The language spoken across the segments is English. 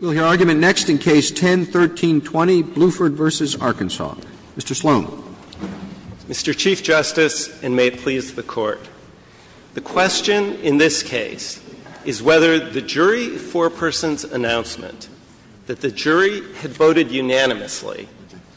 We'll hear argument next in Case 10-1320, Bluford v. Arkansas. Mr. Sloan. Mr. Chief Justice, and may it please the Court, the question in this case is whether the jury foreperson's announcement that the jury had voted unanimously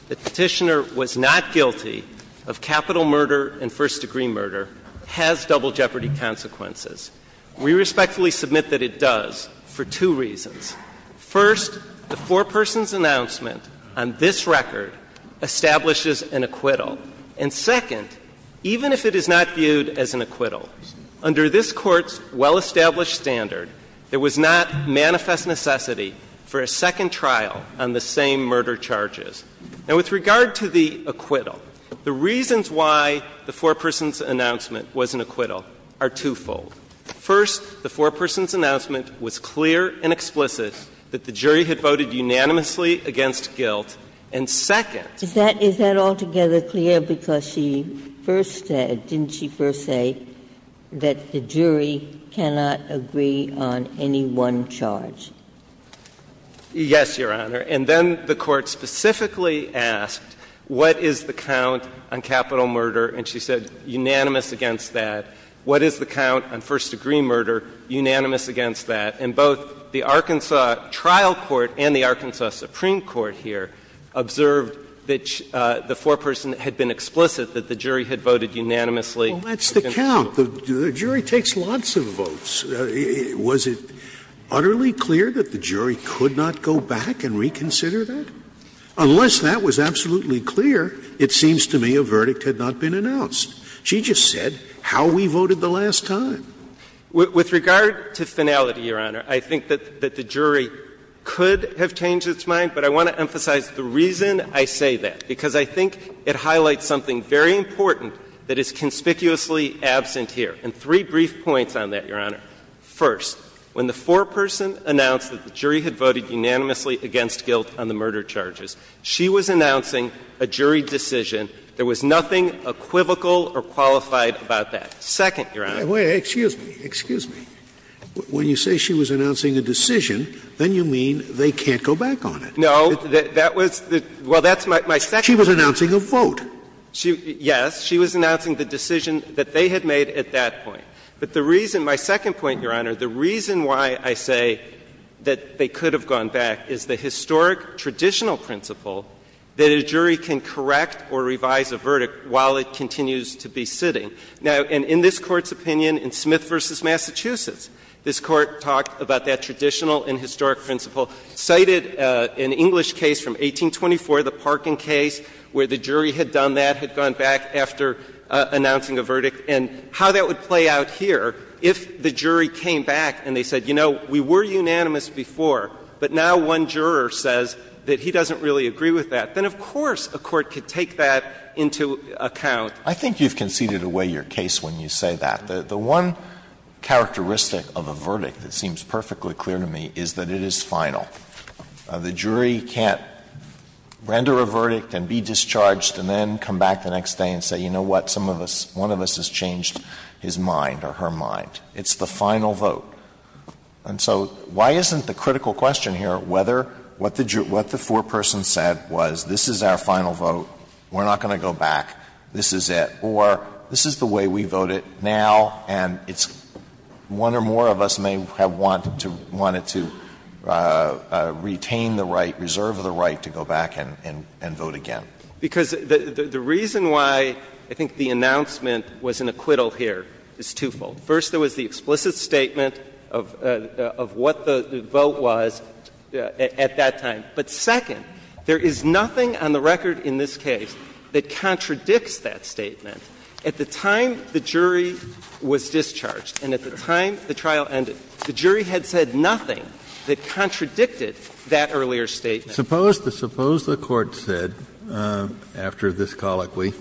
that the petitioner was not guilty of capital murder and first-degree murder has double jeopardy consequences. We respectfully submit that it does for two reasons. First, the foreperson's announcement on this record establishes an acquittal. And second, even if it is not viewed as an acquittal, under this Court's well-established standard, there was not manifest necessity for a second trial on the same murder charges. Now, with regard to the acquittal, the reasons why the foreperson's announcement was an acquittal are twofold. First, the foreperson's announcement was clear and explicit that the jury had voted unanimously against guilt. And second — Is that altogether clear? Because she first said, didn't she first say, that the jury cannot agree on any one charge? Yes, Your Honor. And then the Court specifically asked, what is the count on capital murder? And she said, unanimous against that. What is the count on first-degree murder? Unanimous against that. And both the Arkansas trial court and the Arkansas Supreme Court here observed that the foreperson had been explicit that the jury had voted unanimously. Scalia Well, that's the count. The jury takes lots of votes. Was it utterly clear that the jury could not go back and reconsider that? Unless that was absolutely clear, it seems to me a verdict had not been announced. She just said how we voted the last time. With regard to finality, Your Honor, I think that the jury could have changed its mind, but I want to emphasize the reason I say that, because I think it highlights something very important that is conspicuously absent here. And three brief points on that, Your Honor. First, when the foreperson announced that the jury had voted unanimously against guilt on the murder charges, she was announcing a jury decision. There was nothing equivocal or qualified about that. Second, Your Honor. Scalia Wait. Excuse me. Excuse me. When you say she was announcing a decision, then you mean they can't go back on it. Unanimous No. That was the — well, that's my second point. Scalia She was announcing a vote. Unanimous Yes. She was announcing the decision that they had made at that point. But the reason — my second point, Your Honor, the reason why I say that they could have gone back is the historic, traditional principle that a jury can correct or revise a verdict while it continues to be sitting. Now, and in this Court's opinion, in Smith v. Massachusetts, this Court talked about that traditional and historic principle, cited an English case from 1824, the Parkin case, where the jury had done that, had gone back after announcing a verdict, and how that would play out here if the jury came back and they said, you know, we were unanimous before, but now one juror says that he doesn't really agree with that. Then, of course, a court could take that into account. Alito I think you've conceded away your case when you say that. The one characteristic of a verdict that seems perfectly clear to me is that it is final. The jury can't render a verdict and be discharged and then come back the next day and say, you know what, some of us, one of us has changed his mind or her mind. It's the final vote. And so why isn't the critical question here whether what the four-person said was this is our final vote, we're not going to go back, this is it, or this is the way we vote it now and it's one or more of us may have wanted to retain the right, reserve the right to go back and vote again? Because the reason why I think the announcement was an acquittal here is twofold. First, there was the explicit statement of what the vote was at that time. But second, there is nothing on the record in this case that contradicts that statement. At the time the jury was discharged and at the time the trial ended, the jury had said nothing that contradicted that earlier statement. Suppose the Court said, after this colloquy,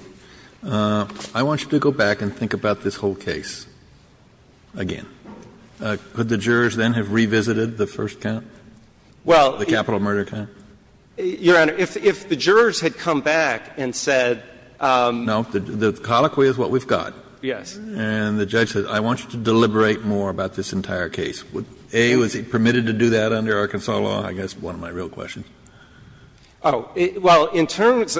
I want you to go back and think about this whole case again. Could the jurors then have revisited the first count, the capital murder count? Well, Your Honor, if the jurors had come back and said the colloquy is what we've got, and the judge said, I want you to deliberate more about this entire case, A, was it permitted to do that under Arkansas law, I guess one of my real questions? Oh, well, in terms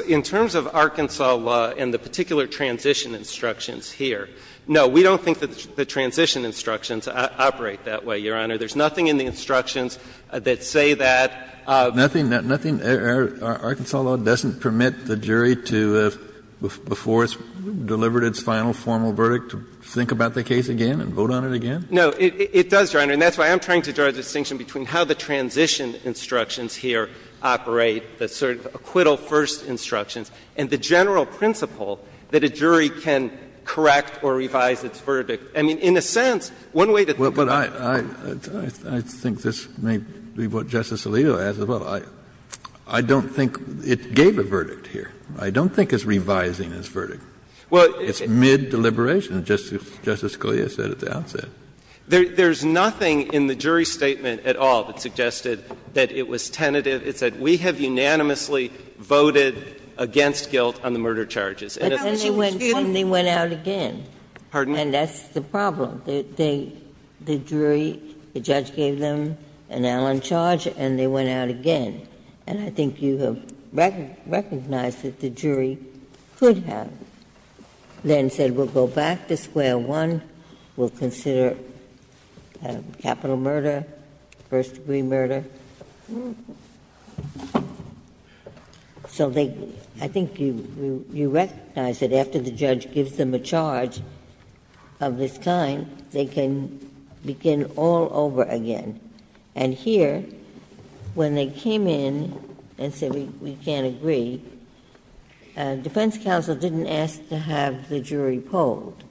of Arkansas law and the particular transition instructions here, no, we don't think the transition instructions operate that way, Your Honor. There's nothing in the instructions that say that. Nothing, Arkansas law doesn't permit the jury to, before it's delivered its final formal verdict, to think about the case again and vote on it again? No, it does, Your Honor. And that's why I'm trying to draw a distinction between how the transition instructions here operate, the sort of acquittal-first instructions, and the general principle that a jury can correct or revise its verdict. I mean, in a sense, one way to think about it is that the jury can correct or revise its verdict. Kennedy, I think this may be what Justice Alito has as well. I don't think it gave a verdict here. I don't think it's revising its verdict. It's mid-deliberation, as Justice Scalia said at the outset. There's nothing in the jury statement at all that suggested that it was tentative to say we have unanimously voted against guilt on the murder charges. And it's not that she was guilty. But then they went out again. Pardon? And that's the problem. The jury, the judge gave them an Allen charge and they went out again. And I think you have recognized that the jury could have then said we'll go back to square one, we'll consider capital murder, first-degree murder. So they, I think you recognize that after the judge gives them a charge of this kind, they can begin all over again. And here, when they came in and said we can't agree, defense counsel didn't ask to have the jury polled.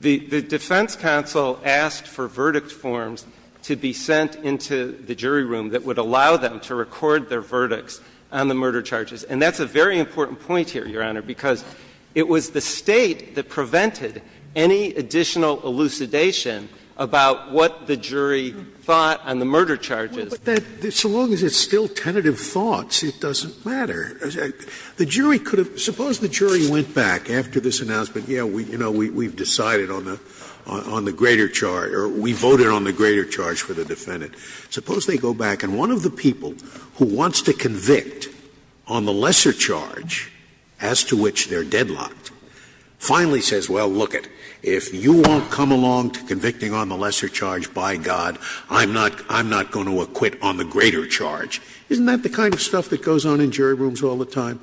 The defense counsel asked for verdict forms to be sent into the jury room that would allow them to record their verdicts on the murder charges. And that's a very important point here, Your Honor, because it was the State that prevented any additional elucidation about what the jury thought on the murder charges. Scalia, so long as it's still tentative thoughts, it doesn't matter. The jury could have — suppose the jury went back after this announcement, yeah, we, you know, we've decided on the greater charge, or we voted on the greater charge for the defendant. Suppose they go back and one of the people who wants to convict on the lesser charge as to which they're deadlocked finally says, well, look it, if you won't come along to convicting on the lesser charge, by God, I'm not going to acquit on the greater charge. Isn't that the kind of stuff that goes on in jury rooms all the time?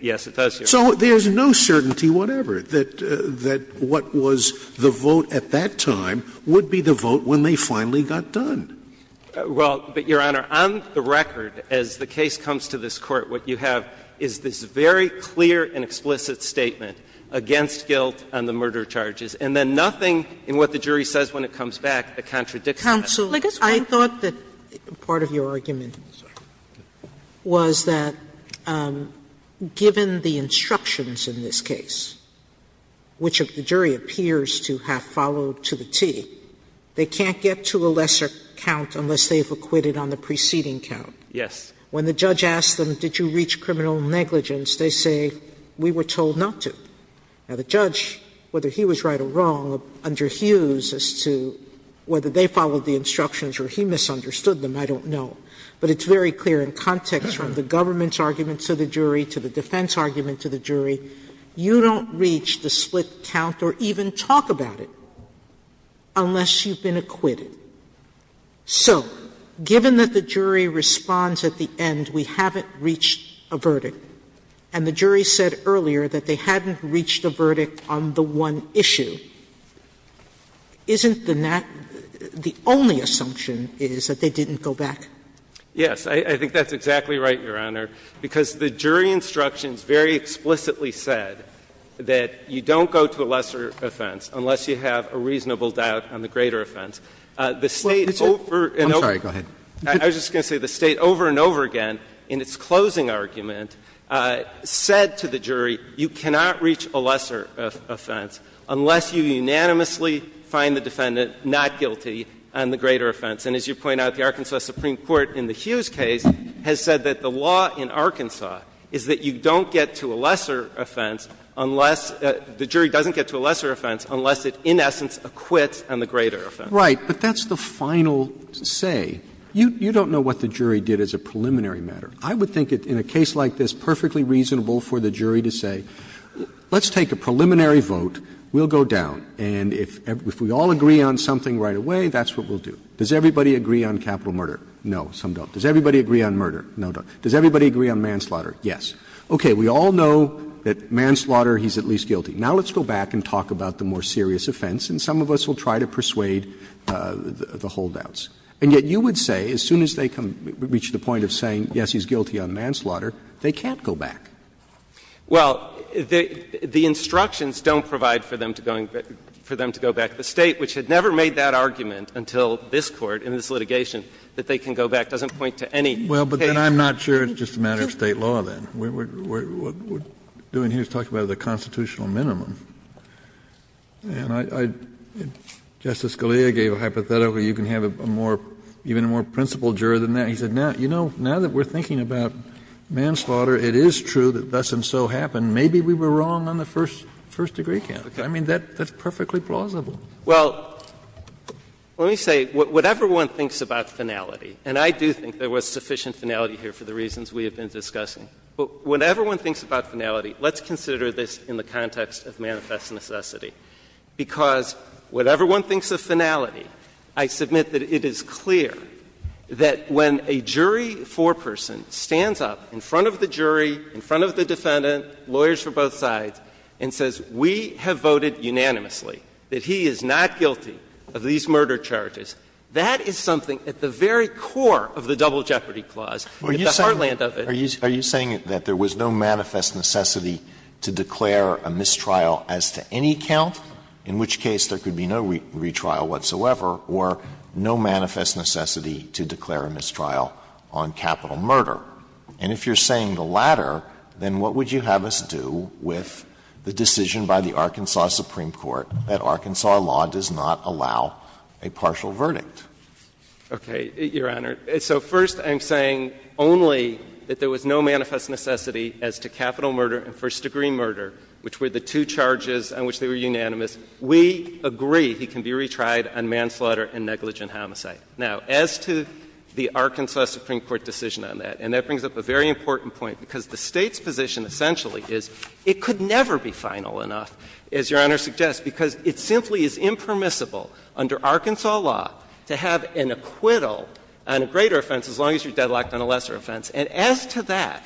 Yes, it does, Your Honor. So there's no certainty whatever that what was the vote at that time would be the vote when they finally got done. Well, but, Your Honor, on the record, as the case comes to this Court, what you have is this very clear and explicit statement against guilt on the murder charges, and then nothing in what the jury says when it comes back that contradicts that. Sotomayor, I thought that part of your argument was that, given the instructions in this case, which the jury appears to have followed to the T, they can't get to a lesser count unless they've acquitted on the preceding count. Yes. When the judge asks them, did you reach criminal negligence, they say, we were told not to. Now, the judge, whether he was right or wrong, underhues as to whether they followed the instructions or he misunderstood them, I don't know. But it's very clear in context from the government's argument to the jury to the defense argument to the jury, you don't reach the split count or even talk about it unless you've been acquitted. So given that the jury responds at the end, we haven't reached a verdict, and the jury said earlier that they hadn't reached a verdict on the one issue, isn't the only assumption is that they didn't go back? Yes. I think that's exactly right, Your Honor, because the jury instructions very explicitly said that you don't go to a lesser offense unless you have a reasonable doubt on the greater offense. The State over and over again, I was just going to say the State over and over again in its closing argument said to the jury, you cannot reach a lesser offense unless you unanimously find the defendant not guilty on the greater offense. And as you point out, the Arkansas Supreme Court in the Hughes case has said that the law in Arkansas is that you don't get to a lesser offense unless the jury doesn't get to a lesser offense unless it in essence acquits on the greater offense. Right. But that's the final say. You don't know what the jury did as a preliminary matter. I would think in a case like this, perfectly reasonable for the jury to say, let's take a preliminary vote. We'll go down and if we all agree on something right away, that's what we'll do. Does everybody agree on capital murder? No, some don't. Does everybody agree on murder? No, some don't. Does everybody agree on manslaughter? Yes. Okay. We all know that manslaughter, he's at least guilty. Now let's go back and talk about the more serious offense, and some of us will try to persuade the holdouts. And yet you would say, as soon as they reach the point of saying, yes, he's guilty on manslaughter, they can't go back. Well, the instructions don't provide for them to go back to the State, which had never made that argument until this Court in this litigation, that they can go back. It doesn't point to any case. Well, but then I'm not sure it's just a matter of State law, then. What we're doing here is talking about the constitutional minimum. And I — Justice Scalia gave a hypothetical, you can have a more — even a more principled jury than that. And he said, you know, now that we're thinking about manslaughter, it is true that thus and so happened. Maybe we were wrong on the first degree category. I mean, that's perfectly plausible. Well, let me say, whatever one thinks about finality, and I do think there was sufficient finality here for the reasons we have been discussing, but whatever one thinks about finality, let's consider this in the context of manifest necessity. Because whatever one thinks of finality, I submit that it is clear that when a jury foreperson stands up in front of the jury, in front of the defendant, lawyers for both sides, and says, we have voted unanimously that he is not guilty of these murder charges, that is something at the very core of the Double Jeopardy Clause, at the heartland of it. Alito, are you saying that there was no manifest necessity to declare a mistrial as to any count, in which case there could be no retrial whatsoever, or no manifest necessity to declare a mistrial on capital murder? And if you're saying the latter, then what would you have us do with the decision by the Arkansas Supreme Court that Arkansas law does not allow a partial verdict? Okay, Your Honor. So first I'm saying only that there was no manifest necessity as to capital murder and first-degree murder, which were the two charges on which they were unanimous. We agree he can be retried on manslaughter and negligent homicide. Now, as to the Arkansas Supreme Court decision on that, and that brings up a very important point, because the State's position essentially is it could never be final enough, as Your Honor suggests, because it simply is impermissible under Arkansas law to have an acquittal on a greater offense as long as you're deadlocked on a lesser offense. And as to that,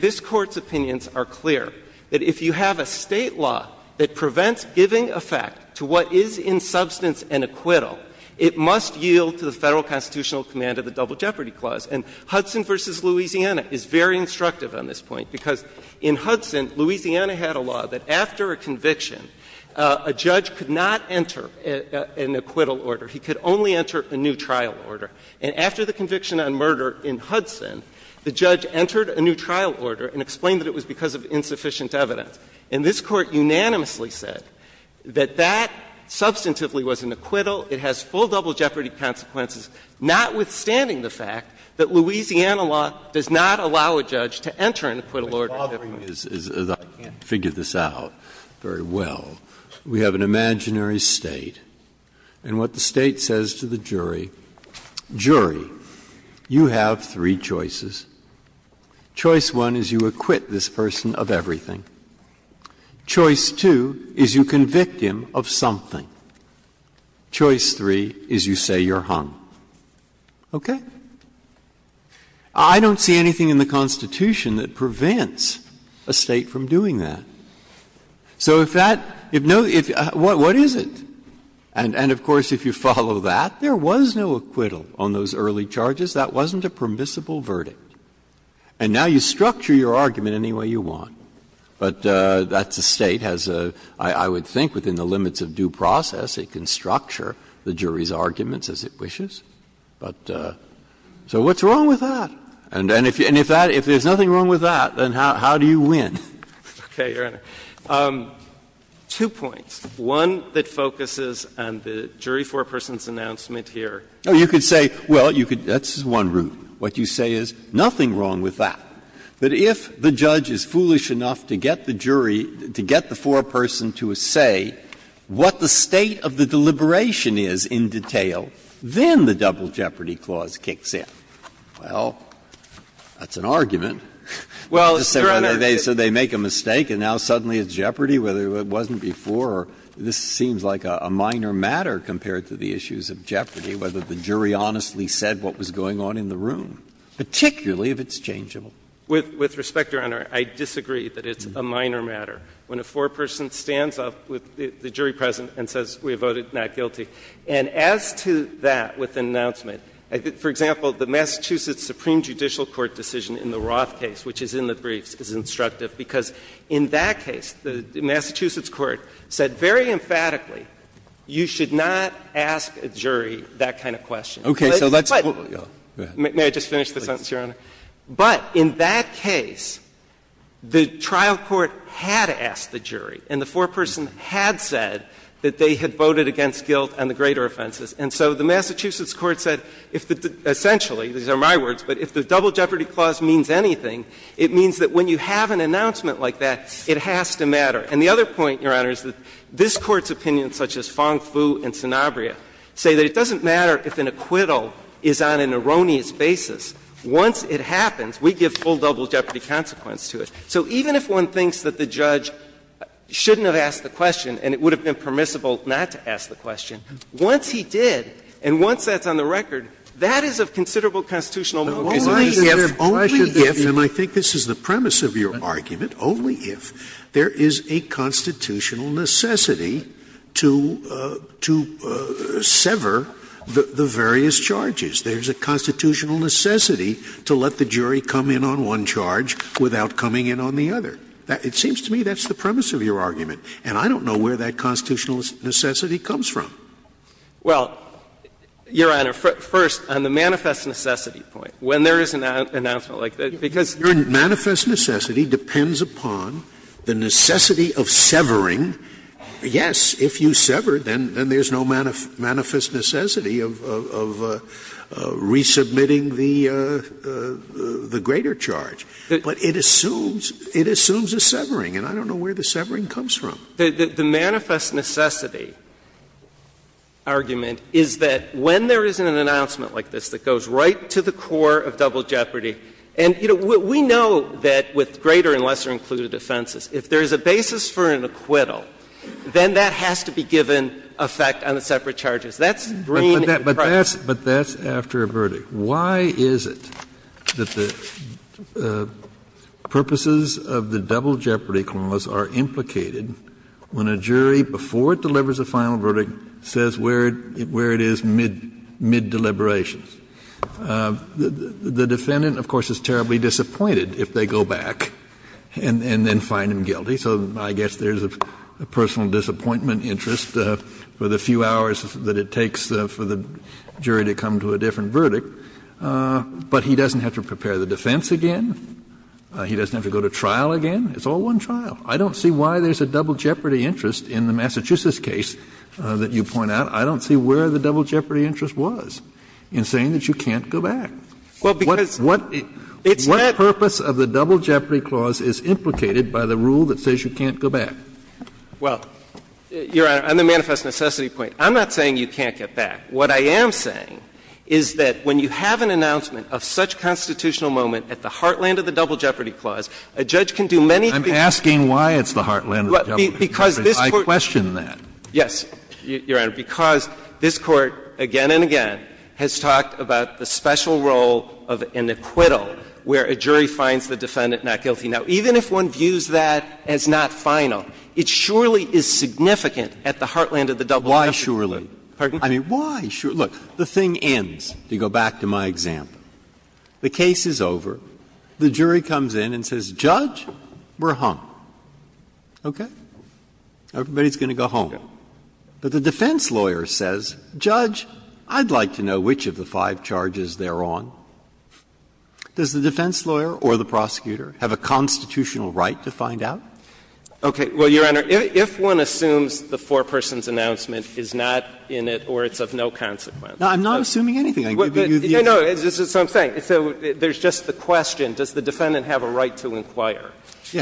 this Court's opinions are clear, that if you have a State law that prevents giving effect to what is in substance an acquittal, it must yield to the Federal constitutional command of the Double Jeopardy Clause. And Hudson v. Louisiana is very instructive on this point, because in Hudson, Louisiana had a law that after a conviction, a judge could not enter an acquittal order. He could only enter a new trial order. And after the conviction on murder in Hudson, the judge entered a new trial order and explained that it was because of insufficient evidence. And this Court unanimously said that that substantively was an acquittal. It has full double jeopardy consequences, notwithstanding the fact that Louisiana law does not allow a judge to enter an acquittal order. Breyer's law is, as I can't figure this out very well, we have an imaginary State, and what the State says to the jury, jury, you have three choices. Choice one is you acquit this person of everything. Choice two is you convict him of something. Choice three is you say you're hung. Okay? I don't see anything in the Constitution that prevents a State from doing that. So if that no – what is it? And of course, if you follow that, there was no acquittal on those early charges. That wasn't a permissible verdict. And now you structure your argument any way you want. But that's a State has a – I would think within the limits of due process, it can structure the jury's arguments as it wishes. But so what's wrong with that? And if that – if there's nothing wrong with that, then how do you win? Okay, Your Honor. Two points. One that focuses on the jury foreperson's announcement here. Oh, you could say, well, you could – that's one route. What you say is nothing wrong with that. That if the judge is foolish enough to get the jury, to get the foreperson to say what the state of the deliberation is in detail, then the Double Jeopardy Clause kicks in. Well, that's an argument. Well, Your Honor, they – so they make a mistake and now suddenly it's jeopardy, whether it wasn't before or this seems like a minor matter compared to the issues of jeopardy, whether the jury honestly said what was going on in the room, particularly if it's changeable. With respect, Your Honor, I disagree that it's a minor matter. When a foreperson stands up with the jury present and says, we voted not guilty. And as to that with the announcement, for example, the Massachusetts Supreme Judicial Court decision in the Roth case, which is in the briefs, is instructive because in that case, the Massachusetts court said very emphatically, you should not ask a jury that kind of question. Okay. So let's – go ahead. May I just finish the sentence, Your Honor? Please. In that case, the trial court had asked the jury and the foreperson had said that they had voted against guilt and the greater offenses. And so the Massachusetts court said if the – essentially, these are my words, but if the Double Jeopardy Clause means anything, it means that when you have an announcement like that, it has to matter. And the other point, Your Honor, is that this Court's opinion, such as Fong-Fu and Sanabria, say that it doesn't matter if an acquittal is on an erroneous basis. Once it happens, we give full double jeopardy consequence to it. So even if one thinks that the judge shouldn't have asked the question and it would have been permissible not to ask the question, once he did and once that's on the record, that is of considerable constitutional motivation. Scalia. Only if, and I think this is the premise of your argument, only if there is a constitutional necessity to – to sever the various charges. There is a constitutional necessity to let the jury come in on one charge without coming in on the other. It seems to me that's the premise of your argument. And I don't know where that constitutional necessity comes from. Well, Your Honor, first, on the manifest necessity point, when there is an announcement like that, because your manifest necessity depends upon the necessity of severing. Yes, if you sever, then there's no manifest necessity of resubmitting the greater charge, but it assumes – it assumes a severing, and I don't know where the severing comes from. The manifest necessity argument is that when there is an announcement like this that goes right to the core of double jeopardy, and, you know, we know that with greater and lesser included offenses, if there is a basis for an acquittal, then that has to be given effect on the separate charges. That's green in the process. Kennedy, but that's after a verdict. Why is it that the purposes of the double jeopardy clause are implicated when a jury before it delivers a final verdict says where it is mid-deliberations? The defendant, of course, is terribly disappointed if they go back and then find him guilty, so I guess there's a personal disappointment interest for the few hours that it takes for the jury to come to a different verdict. But he doesn't have to prepare the defense again. He doesn't have to go to trial again. It's all one trial. I don't see why there's a double jeopardy interest in the Massachusetts case that you point out. I don't see where the double jeopardy interest was in saying that you can't go back. What purpose of the double jeopardy clause is implicated by the rule that says you can't go back? Well, Your Honor, on the manifest necessity point, I'm not saying you can't get back. What I am saying is that when you have an announcement of such constitutional moment at the heartland of the double jeopardy clause, a judge can do many things to the court. I'm asking why it's the heartland of the double jeopardy clause. I question that. Yes, Your Honor, because this Court again and again has talked about the special role of an acquittal where a jury finds the defendant not guilty. Now, even if one views that as not final, it surely is significant at the heartland of the double jeopardy clause. Why surely? Pardon? I mean, why surely? Look, the thing ends, to go back to my example. The case is over. The jury comes in and says, Judge, we're hung. Okay? Everybody's going to go home. But the defense lawyer says, Judge, I'd like to know which of the five charges they're on. Does the defense lawyer or the prosecutor have a constitutional right to find out? Okay. Well, Your Honor, if one assumes the four-person's announcement is not in it or it's of no consequence. No, I'm not assuming anything. I'm giving you the answer. No, no. This is what I'm saying. So there's just the question, does the defendant have a right to inquire?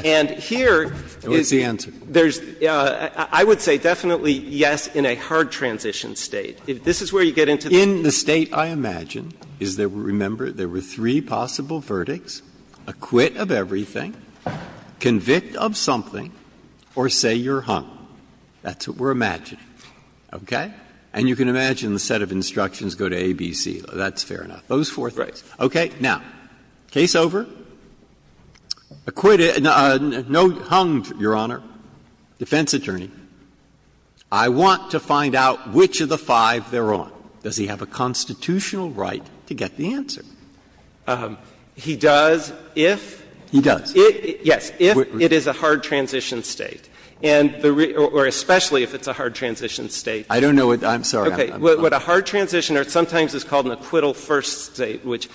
And here is the answer. There's the question, I would say definitely yes in a hard transition state. If this is where you get into the case. Breyer, in the state I imagine, is that, remember, there were three possible verdicts, acquit of everything, convict of something, or say you're hung. That's what we're imagining. Okay? And you can imagine the set of instructions go to A, B, C. That's fair enough. Those four things. Okay. Now, case over. Acquitted, no, hung, Your Honor, defense attorney. I want to find out which of the five they're on. Does he have a constitutional right to get the answer? He does, if? He does. Yes, if it is a hard transition state. And the real or especially if it's a hard transition state. I don't know what, I'm sorry, I'm not. What a hard transition or sometimes it's called an acquittal first state, which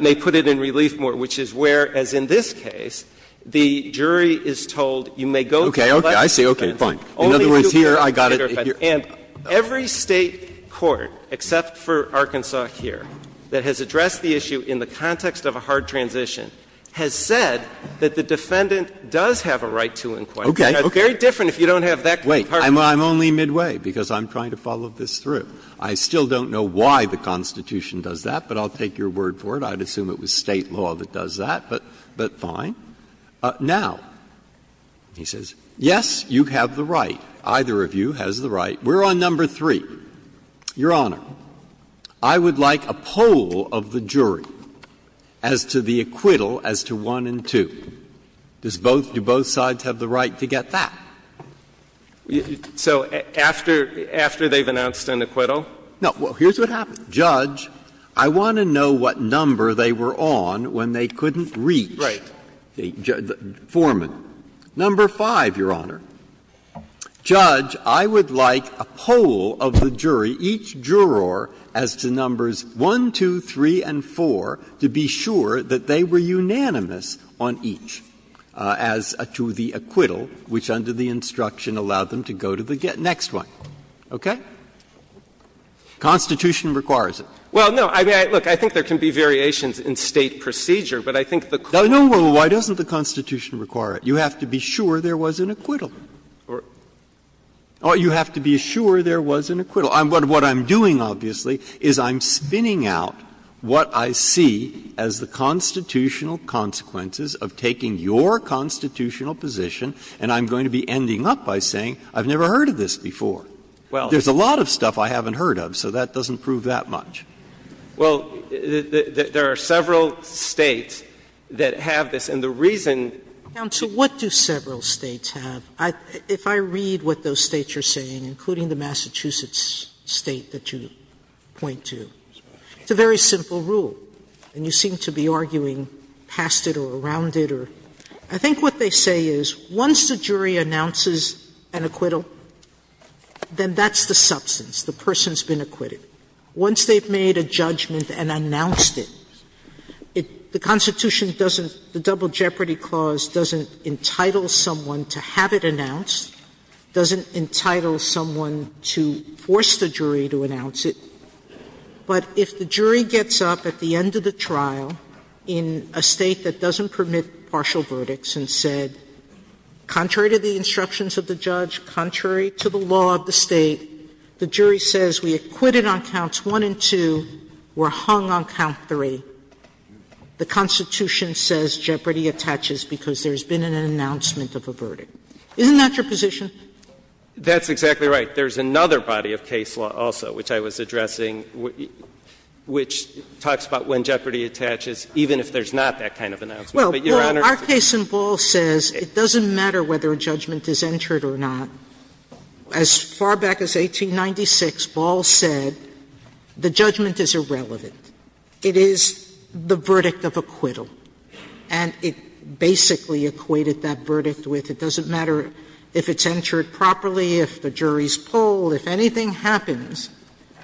may put it in relief more, which is where, as in this case, the jury is told you may go to the legal defense. Okay, okay, I see, okay, fine. In other words, here I got it. And every State court, except for Arkansas here, that has addressed the issue in the context of a hard transition has said that the defendant does have a right to inquest. Okay. It's very different if you don't have that kind of hard transition. Wait, I'm only midway, because I'm trying to follow this through. I still don't know why the Constitution does that, but I'll take your word for it. I'd assume it was State law that does that, but fine. Now, he says, yes, you have the right. Either of you has the right. We're on number three. Your Honor, I would like a poll of the jury as to the acquittal as to 1 and 2. Does both do both sides have the right to get that? So after they've announced an acquittal? No. Well, here's what happened. Judge, I want to know what number they were on when they couldn't reach the foreman. Number five, Your Honor. Judge, I would like a poll of the jury, each juror, as to numbers 1, 2, 3, and 4, to be sure that they were unanimous on each as to the acquittal, which under the instruction allowed them to go to the next one, okay? The Constitution requires it. Well, no, I mean, look, I think there can be variations in State procedure, but I think the court's right. No, no, why doesn't the Constitution require it? You have to be sure there was an acquittal. Or you have to be sure there was an acquittal. So what I'm doing, obviously, is I'm spinning out what I see as the constitutional consequences of taking your constitutional position, and I'm going to be ending up by saying I've never heard of this before. Well, there's a lot of stuff I haven't heard of, so that doesn't prove that much. Well, there are several States that have this, and the reason to do that is to make sure that it's a very simple rule, and you seem to be arguing past it or around it. I think what they say is once the jury announces an acquittal, then that's the substance, the person's been acquitted. Once they've made a judgment and announced it, the Constitution doesn't, the Double Jeopardy Clause doesn't entitle someone to have it announced, doesn't entitle someone to force the jury to announce it. But if the jury gets up at the end of the trial in a State that doesn't permit partial verdicts and said, contrary to the instructions of the judge, contrary to the law of the State, the jury says we acquitted on counts 1 and 2, we're hung on count 3, the Constitution says jeopardy attaches because there's been an announcement of a verdict. Isn't that your position? That's exactly right. There's another body of case law also, which I was addressing, which talks about when jeopardy attaches, even if there's not that kind of announcement. But, Your Honor, it's not that kind of announcement. Sotomayor, our case in Ball says it doesn't matter whether a judgment is entered or not. As far back as 1896, Ball said the judgment is irrelevant. It is the verdict of acquittal. And it basically equated that verdict with it doesn't matter if it's entered properly, if the jury's polled, if anything happens,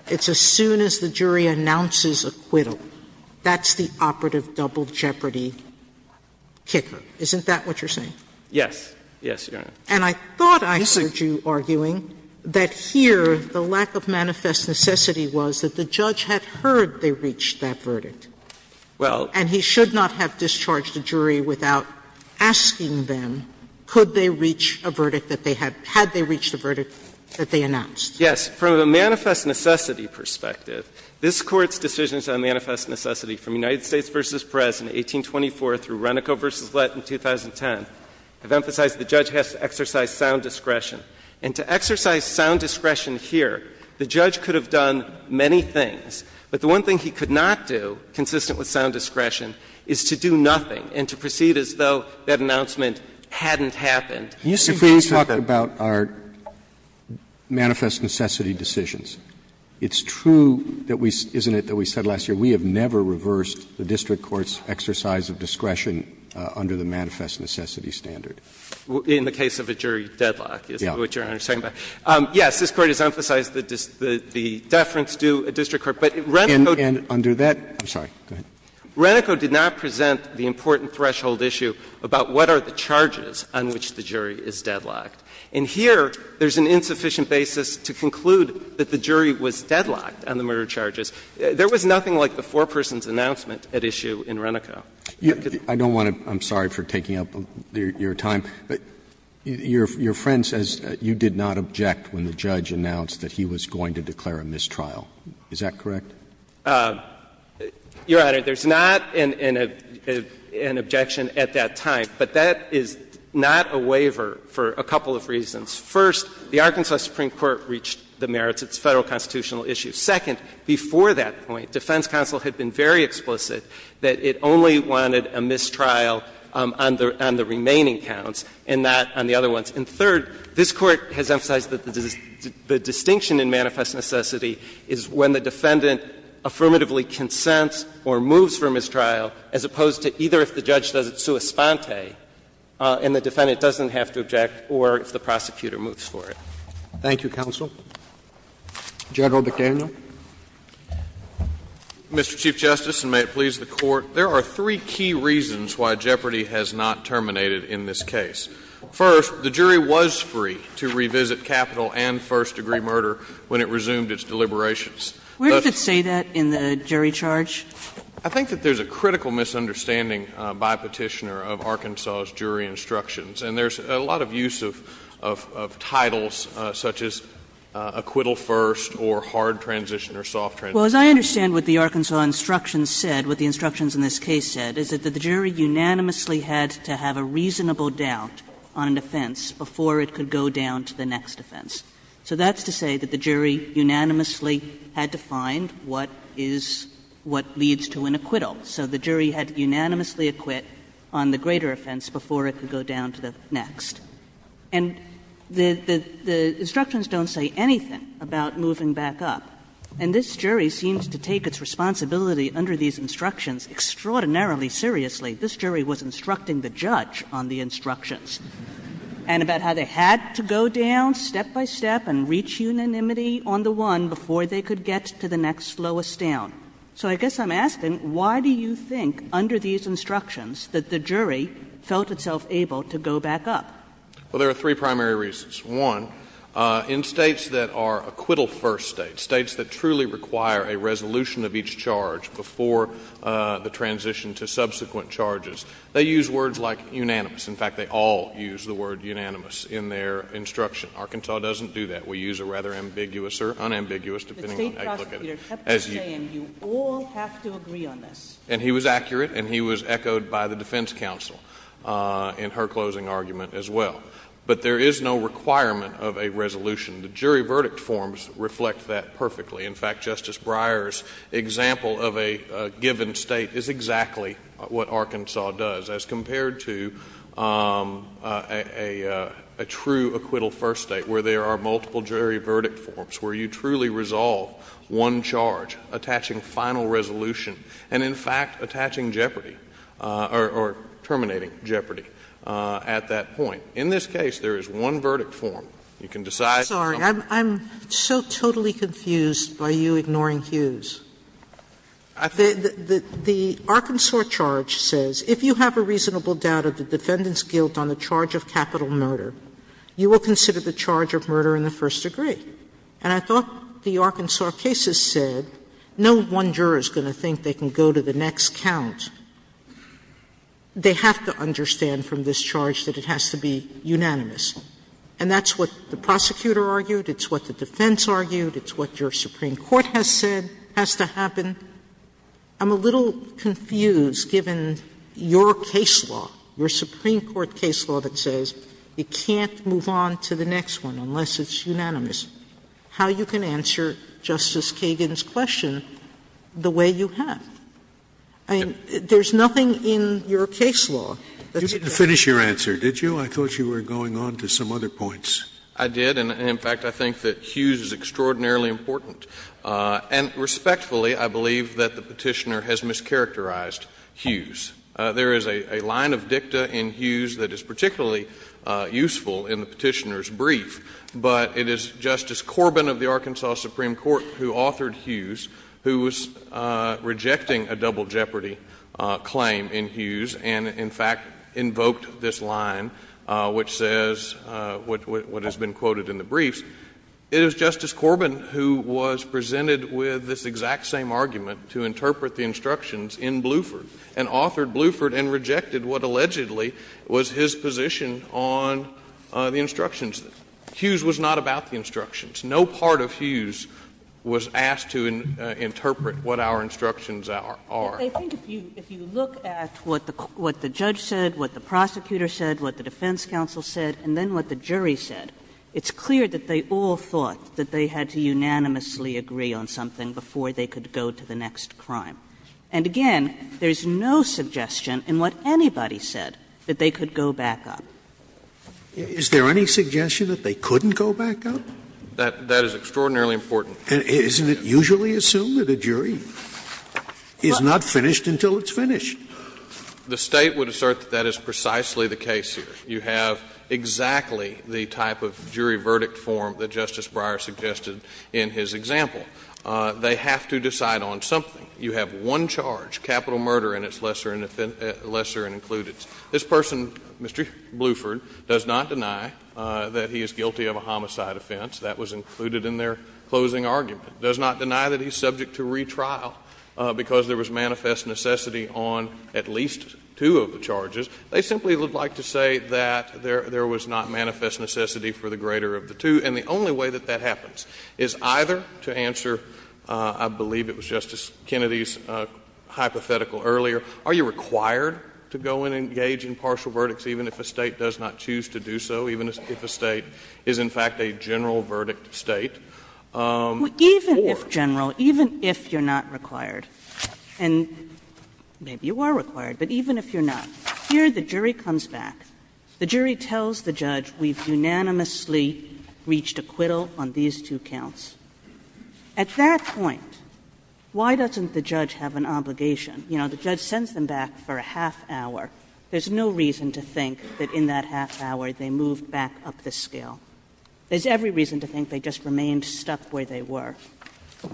it's as soon as the jury announces acquittal. That's the operative double jeopardy kicker. Isn't that what you're saying? Yes. Yes, Your Honor. And I thought I heard you arguing that here the lack of manifest necessity was that the judge had heard they reached that verdict and he should not have discharged a jury without asking them could they reach a verdict that they had, had they reached a verdict that they announced. Yes. From a manifest necessity perspective, this Court's decisions on manifest necessity from United States v. Perez in 1824 through Renico v. Lett in 2010 have emphasized the judge has to exercise sound discretion. And to exercise sound discretion here, the judge could have done many things. But the one thing he could not do, consistent with sound discretion, is to do nothing and to proceed as though that announcement hadn't happened. Can you see what you're talking about? If we talk about our manifest necessity decisions, it's true that we, isn't it, that we said last year we have never reversed the district court's exercise of discretion under the manifest necessity standard? In the case of a jury deadlock is what Your Honor is talking about. Yes. This Court has emphasized the deference to a district court. But Renico did not present the important threshold issue about what are the charges on which the jury is deadlocked. And here there's an insufficient basis to conclude that the jury was deadlocked on the murder charges. There was nothing like the foreperson's announcement at issue in Renico. I don't want to – I'm sorry for taking up your time. Your friend says you did not object when the judge announced that he was going to declare a mistrial. Is that correct? Your Honor, there's not an objection at that time. But that is not a waiver for a couple of reasons. First, the Arkansas Supreme Court reached the merits. It's a Federal constitutional issue. Second, before that point, defense counsel had been very explicit that it only wanted a mistrial on the remaining counts and not on the other ones. And third, this Court has emphasized that the distinction in manifest necessity is when the defendant affirmatively consents or moves for mistrial as opposed to either if the judge does it sua sponte and the defendant doesn't have to object or if the prosecutor moves for it. Thank you, counsel. General McDaniel. Mr. Chief Justice, and may it please the Court, there are three key reasons why the Jury has not terminated in this case. First, the jury was free to revisit capital and first-degree murder when it resumed its deliberations. Where does it say that in the jury charge? I think that there's a critical misunderstanding by Petitioner of Arkansas's jury instructions. And there's a lot of use of titles such as acquittal first or hard transition or soft transition. Well, as I understand what the Arkansas instructions said, what the instructions in this case said is that the jury unanimously had to have a reasonable doubt on an offense before it could go down to the next offense. So that's to say that the jury unanimously had to find what is what leads to an acquittal. So the jury had to unanimously acquit on the greater offense before it could go down to the next. And the instructions don't say anything about moving back up. And this jury seems to take its responsibility under these instructions extraordinarily seriously. This jury was instructing the judge on the instructions and about how they had to go down step by step and reach unanimity on the one before they could get to the next slowest down. So I guess I'm asking, why do you think under these instructions that the jury felt itself able to go back up? Well, there are three primary reasons. One, in states that are acquittal-first states, states that truly require a resolution of each charge before the transition to subsequent charges, they use words like unanimous. In fact, they all use the word unanimous in their instruction. Arkansas doesn't do that. We use a rather ambiguous or unambiguous, depending on how you look at it. The state prosecutor kept on saying, you all have to agree on this. And he was accurate, and he was echoed by the defense counsel in her closing argument as well. But there is no requirement of a resolution. The jury verdict forms reflect that perfectly. In fact, Justice Breyer's example of a given state is exactly what Arkansas does, as compared to a true acquittal-first state, where there are multiple jury verdict forms, where you truly resolve one charge, attaching final resolution, and in fact, attaching jeopardy or terminating jeopardy at that point. In this case, there is one verdict form. You can decide. Sotomayor, I'm so totally confused by you ignoring Hughes. The Arkansas charge says if you have a reasonable doubt of the defendant's guilt on the charge of capital murder, you will consider the charge of murder in the first degree. And I thought the Arkansas case has said no one juror is going to think they can go to the next count. They have to understand from this charge that it has to be unanimous. And that's what the prosecutor argued, it's what the defense argued, it's what your Supreme Court has said has to happen. I'm a little confused, given your case law, your Supreme Court case law that says you can't move on to the next one unless it's unanimous. How you can answer Justice Kagan's question the way you have? I mean, there's nothing in your case law that's exact. Scalia, you didn't finish your answer, did you? I thought you were going on to some other points. I did, and in fact, I think that Hughes is extraordinarily important. And respectfully, I believe that the Petitioner has mischaracterized Hughes. There is a line of dicta in Hughes that is particularly useful in the Petitioner's brief, but it is Justice Corbin of the Arkansas Supreme Court who authored Hughes who was rejecting a double jeopardy claim in Hughes and, in fact, invoked this line which says what has been quoted in the briefs. It is Justice Corbin who was presented with this exact same argument to interpret the instructions in Bluford and authored Bluford and rejected what allegedly was his position on the instructions. Hughes was not about the instructions. No part of Hughes was asked to interpret what our instructions are. Kagan. I think if you look at what the judge said, what the prosecutor said, what the defense counsel said, and then what the jury said, it's clear that they all thought that they had to unanimously agree on something before they could go to the next crime. And again, there is no suggestion in what anybody said that they could go back up. Is there any suggestion that they couldn't go back up? That is extraordinarily important. Isn't it usually assumed that a jury is not finished until it's finished? The State would assert that that is precisely the case here. You have exactly the type of jury verdict form that Justice Breyer suggested in his example. They have to decide on something. You have one charge, capital murder, and it's lesser and included. This person, Mr. Bluford, does not deny that he is guilty of a homicide offense. That was included in their closing argument. Does not deny that he is subject to retrial because there was manifest necessity on at least two of the charges. They simply would like to say that there was not manifest necessity for the greater of the two. And the only way that that happens is either to answer, I believe it was Justice Kennedy's hypothetical earlier, are you required to go and engage in partial verdicts even if a State does not choose to do so, even if a State is, in fact, a general verdict State? Kagan, Even if general, even if you're not required, and maybe you are required, but even if you're not, here the jury comes back. The jury tells the judge we've unanimously reached acquittal on these two counts. At that point, why doesn't the judge have an obligation? You know, the judge sends them back for a half hour. There's no reason to think that in that half hour they moved back up the scale. There's every reason to think they just remained stuck where they were.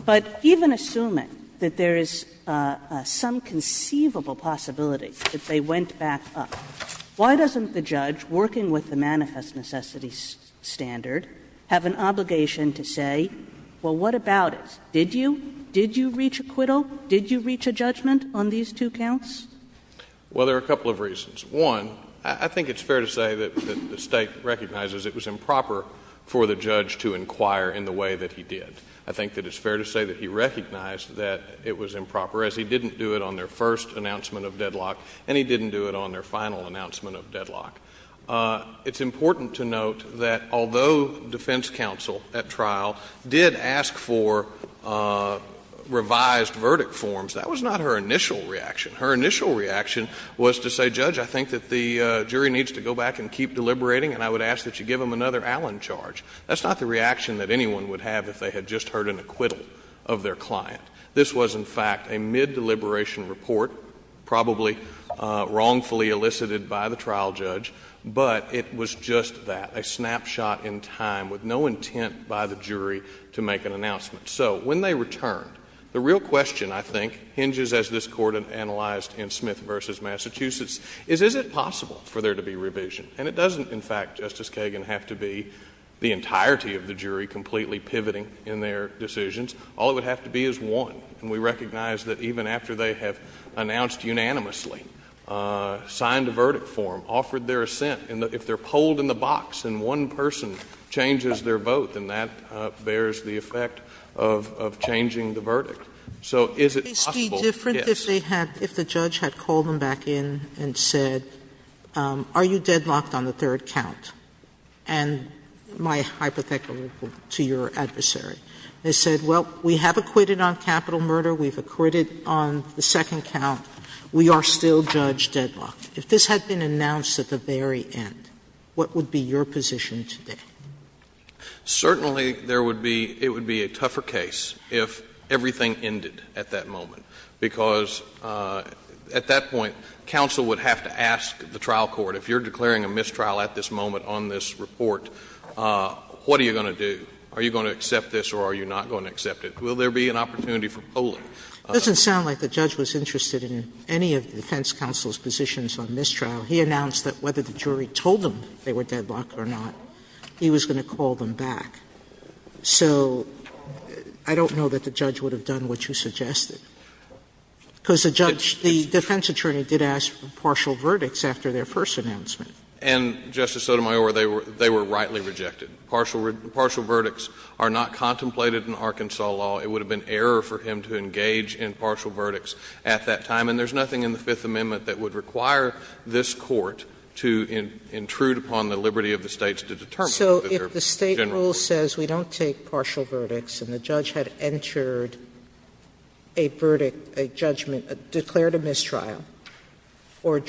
But even assuming that there is some conceivable possibility that they went back up, why doesn't the judge, working with the manifest necessity standard, have an obligation to say, well, what about it? Did you? Did you reach acquittal? Did you reach a judgment on these two counts? Well, there are a couple of reasons. One, I think it's fair to say that the State recognizes it was improper for the judge to inquire in the way that he did. I think that it's fair to say that he recognized that it was improper, as he didn't do it on their first announcement of deadlock, and he didn't do it on their final announcement of deadlock. It's important to note that although defense counsel at trial did ask for revised verdict forms, that was not her initial reaction. Her initial reaction was to say, Judge, I think that the jury needs to go back and keep deliberating, and I would ask that you give them another Allen charge. That's not the reaction that anyone would have if they had just heard an acquittal of their client. This was, in fact, a mid-deliberation report, probably wrongfully elicited by the trial judge, but it was just that, a snapshot in time with no intent by the jury to make an announcement. So when they returned, the real question, I think, hinges as this Court analyzed in Smith v. Massachusetts, is, is it possible for there to be revision? And it doesn't, in fact, Justice Kagan, have to be the entirety of the jury completely pivoting in their decisions. All it would have to be is one, and we recognize that even after they have announced unanimously, signed a verdict form, offered their assent, and if they're of changing the verdict. So is it possible? Sotomayor, if the judge had called them back in and said, are you deadlocked on the third count, and my hypothetical to your adversary, they said, well, we have acquitted on capital murder, we've acquitted on the second count, we are still judge deadlocked. If this had been announced at the very end, what would be your position today? Certainly, there would be — it would be a tougher case if everything ended at that moment, because at that point, counsel would have to ask the trial court, if you're declaring a mistrial at this moment on this report, what are you going to do? Are you going to accept this or are you not going to accept it? Will there be an opportunity for polling? It doesn't sound like the judge was interested in any of the defense counsel's positions on mistrial. He announced that whether the jury told him they were deadlocked or not, he was going to call them back. So I don't know that the judge would have done what you suggested, because the judge — the defense attorney did ask for partial verdicts after their first announcement. And, Justice Sotomayor, they were rightly rejected. Partial verdicts are not contemplated in Arkansas law. It would have been error for him to engage in partial verdicts at that time. And there's nothing in the Fifth Amendment that would require this Court to intrude upon the liberty of the States to determine whether this is true. Sotomayor, so if the State rule says we don't take partial verdicts, and the judge had entered a verdict, a judgment, declared a mistrial, or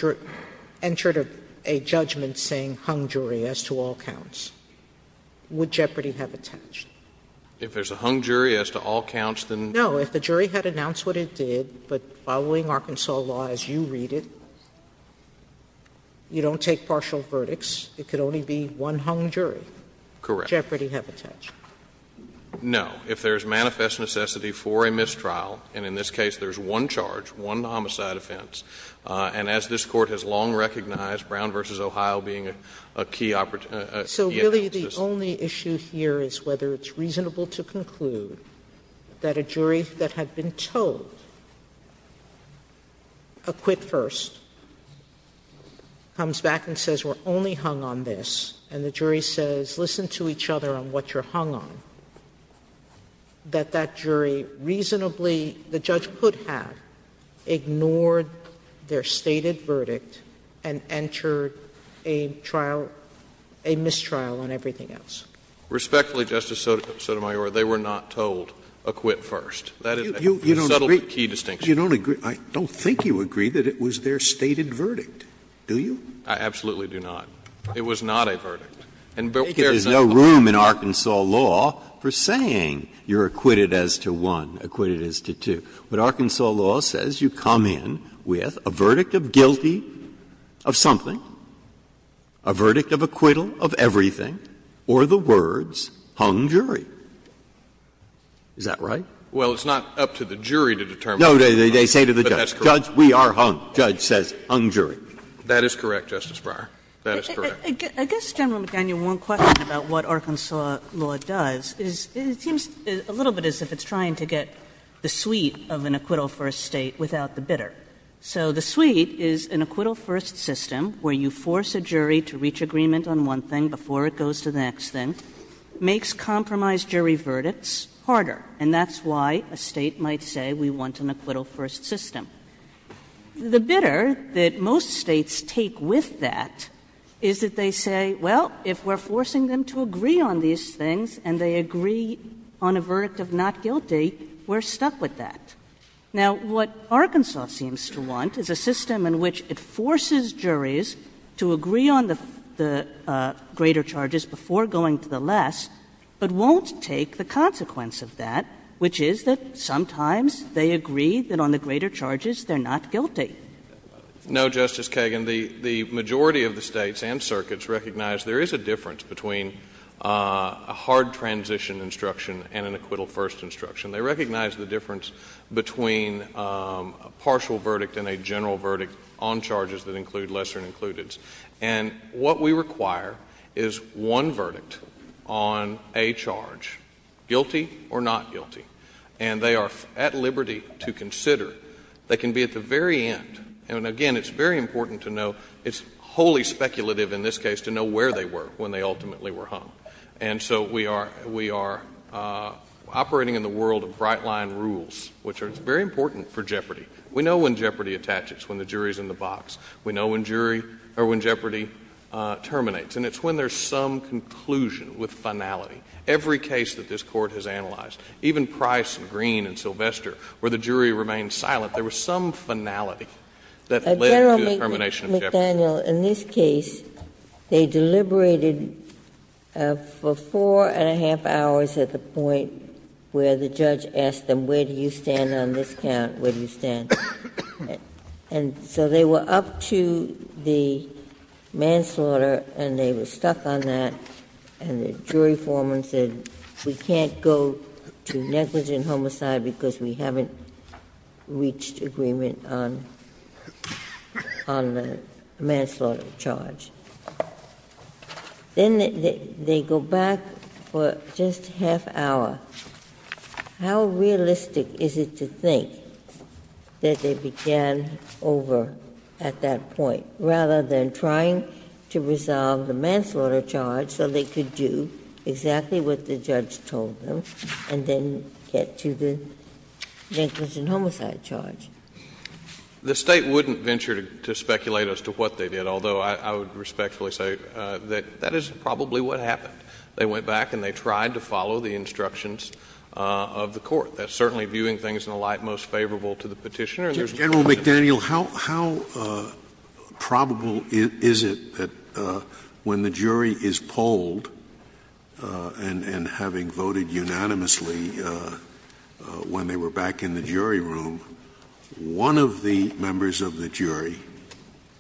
entered a judgment saying hung jury as to all counts, would Jeopardy have attached? If there's a hung jury as to all counts, then no. If the jury had announced what it did, but following Arkansas law as you read it, you don't take partial verdicts, it could only be one hung jury. Correct. Jeopardy have attached. No. If there's manifest necessity for a mistrial, and in this case there's one charge, one homicide offense, and as this Court has long recognized, Brown v. Ohio being a key — So really the only issue here is whether it's reasonable to conclude that a jury that had been told a quit first comes back and says we're only hung on this, and the jury says, listen to each other on what you're hung on, that that jury reasonably — the judge could have ignored their stated verdict and entered a trial — a mistrial on everything else. Respectfully, Justice Sotomayor, they were not told a quit first. That is a subtle, but key distinction. You don't agree — I don't think you agree that it was their stated verdict. Do you? I absolutely do not. It was not a verdict. And there's no room in Arkansas law for saying you're acquitted as to one, acquitted as to two. But Arkansas law says you come in with a verdict of guilty of something, a verdict of acquittal of everything, or the words hung jury. Is that right? Well, it's not up to the jury to determine. No, they say to the judge. But that's correct. Judge, we are hung. Judge says hung jury. That is correct, Justice Breyer. That is correct. I guess, General McDaniel, one question about what Arkansas law does is it seems a little bit as if it's trying to get the suite of an acquittal first State without the bidder. So the suite is an acquittal first system where you force a jury to reach agreement on one thing before it goes to the next thing, makes compromise jury verdicts and that's why a State might say we want an acquittal first system. The bidder that most States take with that is that they say, well, if we're forcing them to agree on these things and they agree on a verdict of not guilty, we're stuck with that. Now, what Arkansas seems to want is a system in which it forces juries to agree on the greater charges before going to the less, but won't take the consequence of that, which is that sometimes they agree that on the greater charges they're not guilty. No, Justice Kagan. The majority of the States and circuits recognize there is a difference between a hard transition instruction and an acquittal first instruction. They recognize the difference between a partial verdict and a general verdict on charges that include lesser and included. And what we require is one verdict on a charge, guilty or not guilty, and they are at liberty to consider. They can be at the very end, and, again, it's very important to know, it's wholly speculative in this case to know where they were when they ultimately were hung. And so we are operating in the world of bright-line rules, which are very important for jeopardy. We know when jeopardy attaches, when the jury is in the box. We know when jury or when jeopardy terminates. And it's when there's some conclusion with finality. Every case that this Court has analyzed, even Price and Green and Sylvester, where the jury remained silent, there was some finality that led to the termination of jeopardy. Ginsburg. In this case, they deliberated for four and a half hours at the point where the judge had said, and so they were up to the manslaughter, and they were stuck on that, and the jury foreman said, we can't go to negligent homicide because we haven't reached agreement on the manslaughter charge. Then they go back for just a half hour. How realistic is it to think that they began over at that point, rather than trying to resolve the manslaughter charge so they could do exactly what the judge told them and then get to the negligent homicide charge? The State wouldn't venture to speculate as to what they did, although I would respectfully say that that is probably what happened. They went back and they tried to follow the instructions of the Court. That's certainly viewing things in a light most favorable to the Petitioner. And there's no question about it. Scalia. General McDaniel, how probable is it that when the jury is polled and having voted unanimously when they were back in the jury room, one of the members of the jury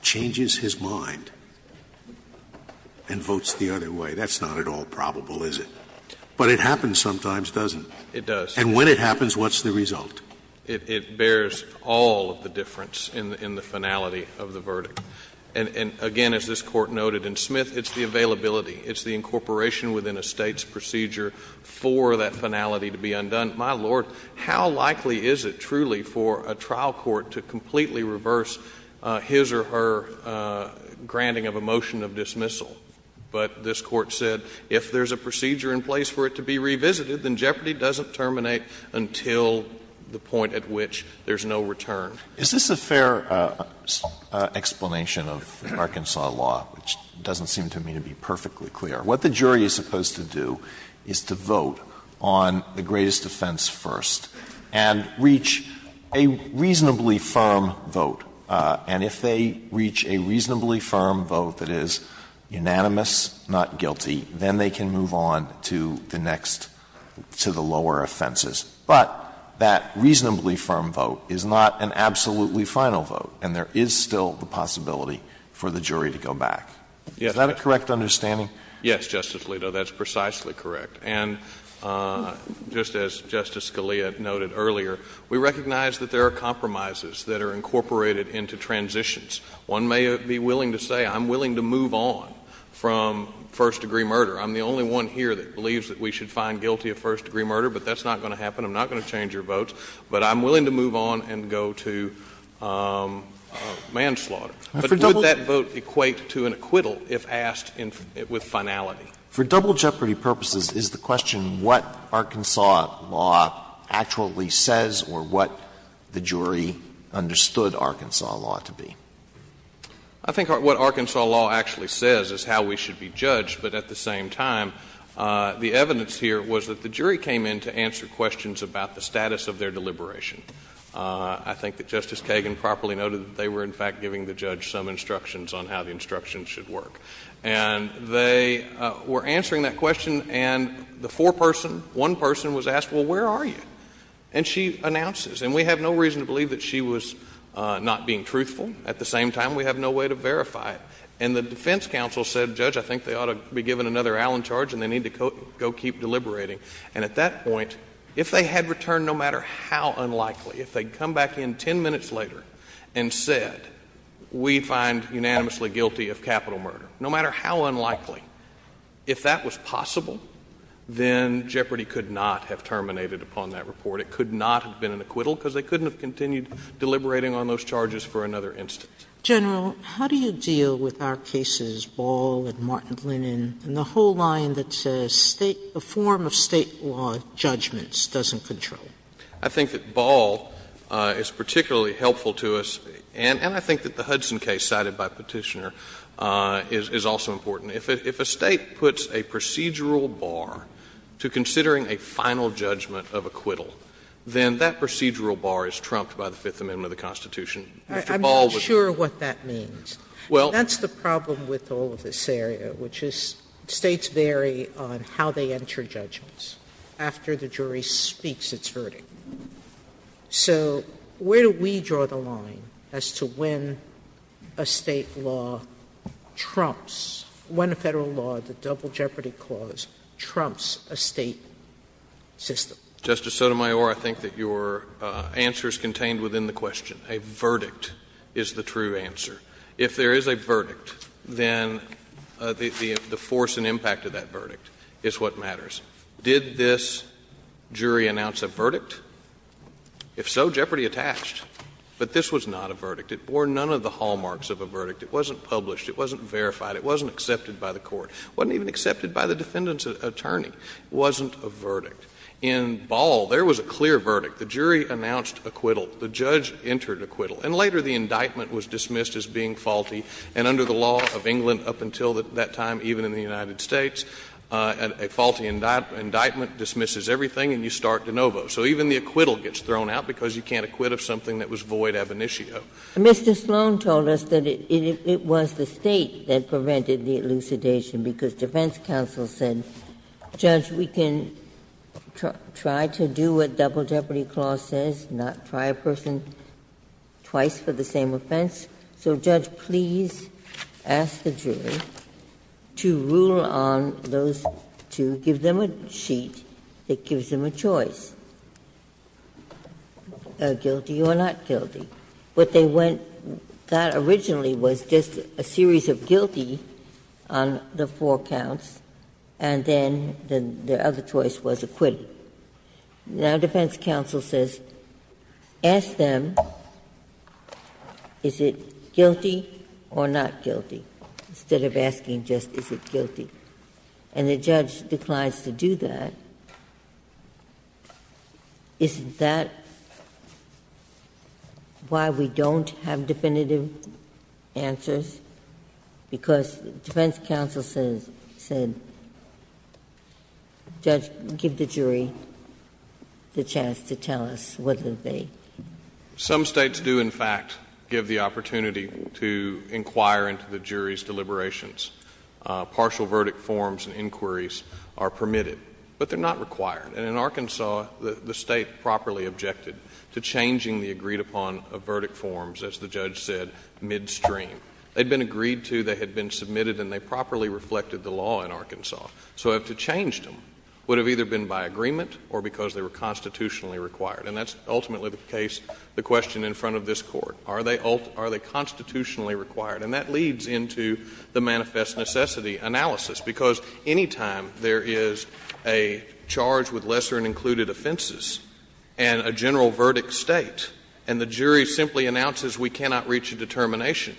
changes his mind and votes the other way? That's not at all probable, is it? But it happens sometimes, doesn't it? It does. And when it happens, what's the result? It bears all of the difference in the finality of the verdict. And again, as this Court noted in Smith, it's the availability, it's the incorporation within a State's procedure for that finality to be undone. My Lord, how likely is it, truly, for a trial court to completely reverse his or her granting of a motion of dismissal? But this Court said, if there's a procedure in place for it to be revisited, then jeopardy doesn't terminate until the point at which there's no return. Is this a fair explanation of Arkansas law, which doesn't seem to me to be perfectly clear? What the jury is supposed to do is to vote on the greatest offense first and reach a reasonably firm vote. And if they reach a reasonably firm vote that is unanimous, not guilty, then they can move on to the next, to the lower offenses. But that reasonably firm vote is not an absolutely final vote, and there is still the possibility for the jury to go back. Is that a correct understanding? Yes, Justice Alito, that's precisely correct. And just as Justice Scalia noted earlier, we recognize that there are compromises that are incorporated into transitions. One may be willing to say, I'm willing to move on from first-degree murder. I'm the only one here that believes that we should find guilty of first-degree murder, but that's not going to happen. I'm not going to change your votes. But I'm willing to move on and go to manslaughter. But would that vote equate to an acquittal if asked with finality? For double jeopardy purposes, is the question what Arkansas law actually says or what the jury understood Arkansas law to be? I think what Arkansas law actually says is how we should be judged, but at the same time, the evidence here was that the jury came in to answer questions about the status of their deliberation. I think that Justice Kagan properly noted that they were, in fact, giving the judge some instructions on how the instructions should work. And they were answering that question, and the foreperson, one person, was asked, well, where are you? And she announces. And we have no reason to believe that she was not being truthful. At the same time, we have no way to verify it. And the defense counsel said, Judge, I think they ought to be given another Allen charge, and they need to go keep deliberating. And at that point, if they had returned no matter how unlikely, if they had come back in ten minutes later and said, we find unanimously guilty of capital murder, no matter how unlikely, if that was possible, then jeopardy could not have terminated upon that report. It could not have been an acquittal, because they couldn't have continued deliberating on those charges for another instance. Sotomayor, how do you deal with our cases Ball and Martin-Lenin and the whole line that a State – a form of State law judgments doesn't control? I think that Ball is particularly helpful to us, and I think that the Hudson case cited by Petitioner is also important. If a State puts a procedural bar to considering a final judgment of acquittal, then that procedural bar is trumped by the Fifth Amendment of the Constitution. Sotomayor, I'm not sure what that means. Well— That's the problem with all of this area, which is States vary on how they enter judgments after the jury speaks its verdict. So where do we draw the line as to when a State law trumps, when a Federal law, the Double Jeopardy Clause, trumps a State system? Justice Sotomayor, I think that your answer is contained within the question. A verdict is the true answer. If there is a verdict, then the force and impact of that verdict is what matters. Did this jury announce a verdict? If so, jeopardy attached. But this was not a verdict. It bore none of the hallmarks of a verdict. It wasn't published. It wasn't verified. It wasn't accepted by the Court. It wasn't even accepted by the defendant's attorney. It wasn't a verdict. In Ball, there was a clear verdict. The jury announced acquittal. The judge entered acquittal. And later the indictment was dismissed as being faulty, and under the law of England up until that time, even in the United States, a faulty indictment dismisses everything and you start de novo. So even the acquittal gets thrown out because you can't acquit of something that was void ab initio. Mr. Sloan told us that it was the State that prevented the elucidation, because defense counsel said, Judge, we can try to do what Double Jeopardy Clause says, not try a person twice for the same offense. So, Judge, please ask the jury to rule on those two, give them a sheet that gives them a choice, guilty or not guilty. What they went to originally was just a series of guilty on the four counts, and then the other choice was acquitted. Now defense counsel says, ask them, is it guilty or not guilty, instead of asking just is it guilty, and the judge declines to do that, isn't that why we don't have definitive answers, because defense counsel says, said, Judge, give the jury a choice and then the jury has the chance to tell us whether they. Some States do in fact give the opportunity to inquire into the jury's deliberations. Partial verdict forms and inquiries are permitted, but they're not required. And in Arkansas, the State properly objected to changing the agreed upon of verdict forms, as the judge said, midstream. They'd been agreed to, they had been submitted, and they properly reflected the law in Arkansas. So to have changed them would have either been by agreement or because they were constitutionally required. And that's ultimately the case, the question in front of this Court. Are they constitutionally required? And that leads into the manifest necessity analysis, because any time there is a charge with lesser and included offenses and a general verdict State, and the jury simply announces we cannot reach a determination,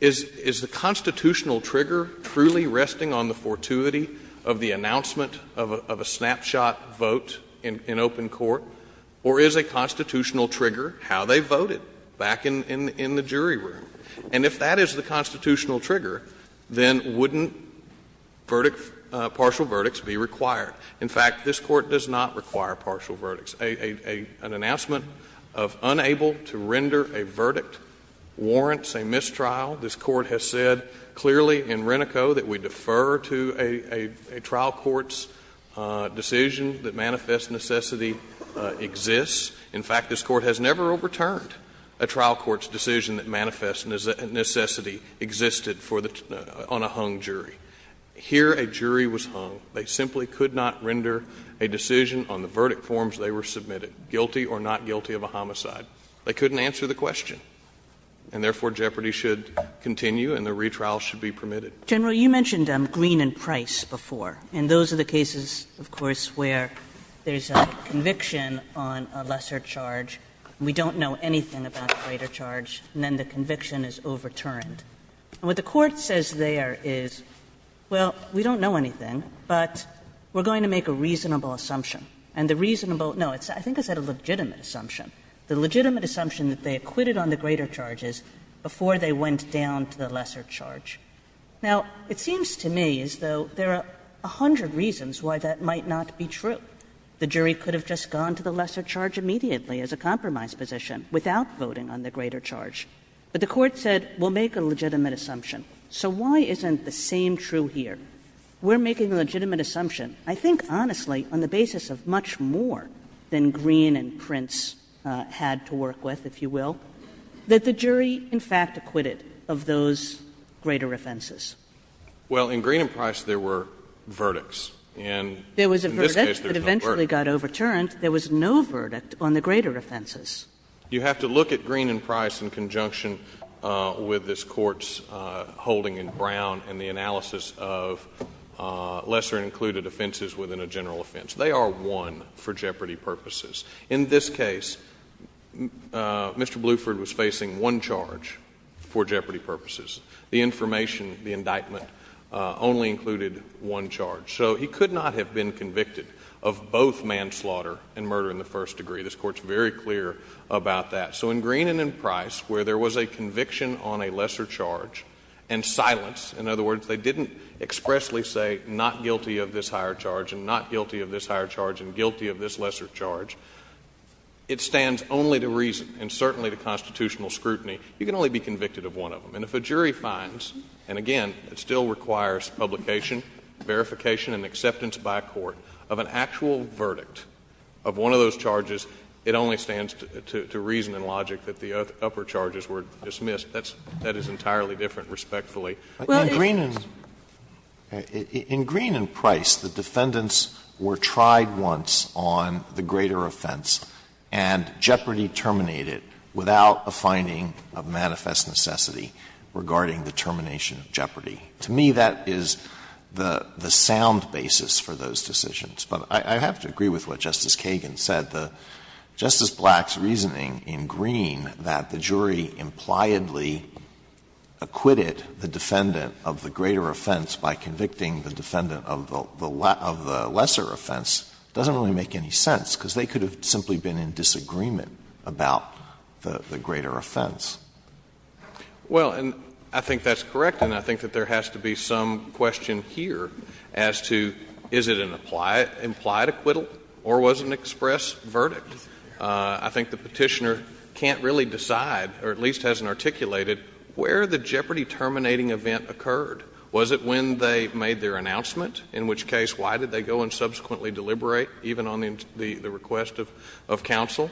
is the constitutional trigger truly resting on the fortuity of the announcement of a snapshot vote in open court? Or is a constitutional trigger how they voted back in the jury room? And if that is the constitutional trigger, then wouldn't partial verdicts be required? In fact, this Court does not require partial verdicts. An announcement of unable to render a verdict warrants a mistrial. This Court has said clearly in Renico that we defer to a trial court's decision that manifest necessity exists. In fact, this Court has never overturned a trial court's decision that manifest necessity existed for the unhung jury. Here a jury was hung. They simply could not render a decision on the verdict forms they were submitted, guilty or not guilty of a homicide. They couldn't answer the question. And therefore, jeopardy should continue and the retrial should be permitted. Kaganern General, you mentioned Green and Price before, and those are the cases, of course, where there is a conviction on a lesser charge, we don't know anything about the greater charge, and then the conviction is overturned. What the Court says there is, well, we don't know anything, but we are going to make a reasonable assumption. And the reasonable, no, I think I said a legitimate assumption. The legitimate assumption that they acquitted on the greater charge is before they went down to the lesser charge. Now, it seems to me as though there are a hundred reasons why that might not be true. The jury could have just gone to the lesser charge immediately as a compromise position without voting on the greater charge. But the Court said we will make a legitimate assumption. So why isn't the same true here? We are making a legitimate assumption, I think honestly, on the basis of much more than Green and Prince had to work with, if you will, that the jury in fact acquitted of those greater offenses. Well, in Green and Price there were verdicts. And in this case there was no verdict. There was a verdict that eventually got overturned. There was no verdict on the greater offenses. You have to look at Green and Price in conjunction with this Court's holding in Brown and the analysis of lesser included offenses within a general offense. They are one for jeopardy purposes. In this case, Mr. Bluford was facing one charge for jeopardy purposes. The information, the indictment only included one charge. So he could not have been convicted of both manslaughter and murder in the first degree. This Court is very clear about that. So in Green and in Price where there was a conviction on a lesser charge and silence, in other words, they didn't expressly say not guilty of this higher charge and not guilty of this lesser charge, it stands only to reason and certainly to constitutional scrutiny. You can only be convicted of one of them. And if a jury finds, and again, it still requires publication, verification and acceptance by a court of an actual verdict of one of those charges, it only stands to reason and logic that the upper charges were dismissed. That is entirely different, respectfully. Alito, in Green and Price, the defendants were tried once on the greater offense and jeopardy terminated without a finding of manifest necessity regarding the termination of jeopardy. To me, that is the sound basis for those decisions. But I have to agree with what Justice Kagan said. Justice Black's reasoning in Green that the jury impliedly acquitted the defendant of the greater offense by convicting the defendant of the lesser offense doesn't really make any sense, because they could have simply been in disagreement about the greater offense. Well, and I think that's correct, and I think that there has to be some question here as to is it an implied acquittal or was it an express verdict. I think the Petitioner can't really decide or at least hasn't articulated where the jeopardy terminating event occurred. Was it when they made their announcement, in which case why did they go and subsequently deliberate even on the request of counsel?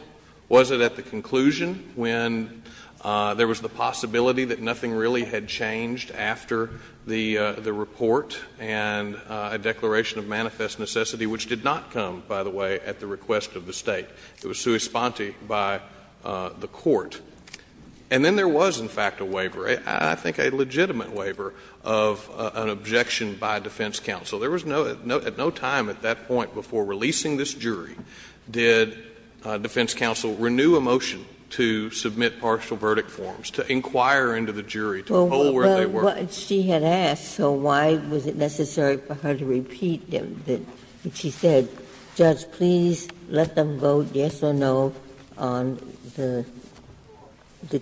Was it at the conclusion when there was the possibility that nothing really had changed after the report and a declaration of manifest necessity, which did not come, by the way, at the request of the State? It was sui sponte by the Court. And then there was, in fact, a waiver, I think a legitimate waiver, of an objection by defense counsel. There was no at no time at that point before releasing this jury did defense counsel renew a motion to submit partial verdict forms, to inquire into the jury, to hold the jury accountable, and so on and so forth. And I don't think that's where they were. Ginsburg. Well, she had asked, so why was it necessary for her to repeat them? She said, Judge, please let them vote yes or no on the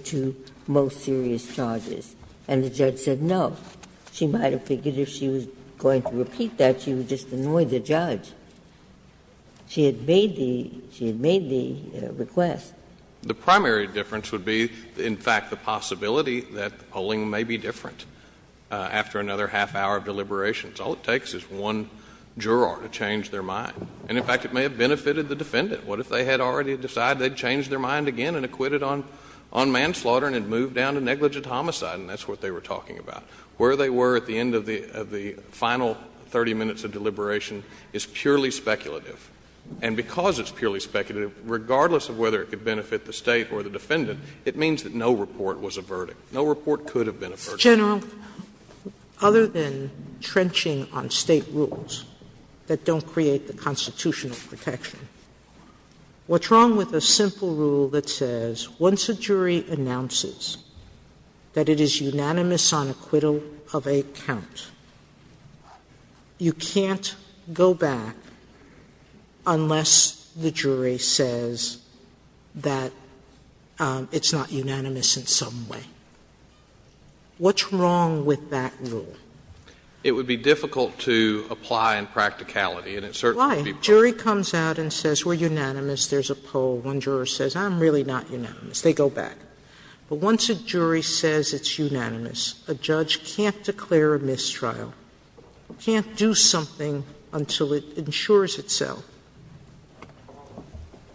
two most serious charges. And the judge said no. She might have figured if she was going to repeat that, she would just annoy the judge. She had made the request. The primary difference would be, in fact, the possibility that the polling may be different after another half-hour of deliberations. All it takes is one juror to change their mind. And, in fact, it may have benefited the defendant. What if they had already decided they'd change their mind again and acquit it on manslaughter and had moved down to negligent homicide? And that's what they were talking about. Where they were at the end of the final 30 minutes of deliberation is purely speculative. And because it's purely speculative, regardless of whether it could benefit the State or the defendant, it means that no report was a verdict. No report could have been a verdict. Sotomayor, other than trenching on State rules that don't create the constitutional protection, what's wrong with a simple rule that says once a jury announces that it is unanimous on acquittal of a count, you can't go back unless the jury says that it's not unanimous in some way? What's wrong with that rule? It would be difficult to apply in practicality, and it certainly would be part of it. Why? A jury comes out and says we're unanimous, there's a poll, one juror says I'm really not unanimous, they go back. But once a jury says it's unanimous, a judge can't declare a mistrial, can't do something until it ensures itself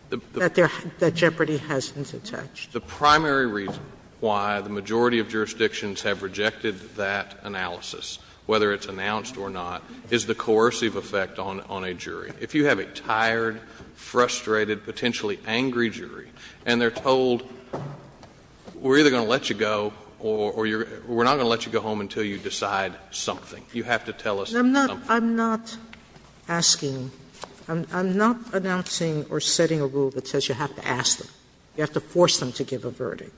that jeopardy hasn't attached. The primary reason why the majority of jurisdictions have rejected that analysis, whether it's announced or not, is the coercive effect on a jury. If you have a tired, frustrated, potentially angry jury, and they're told we're either going to let you go or we're not going to let you go home until you decide something, you have to tell us something. Sotomayor, I'm not asking, I'm not announcing or setting a rule that says you have to ask them, you have to force them to give a verdict.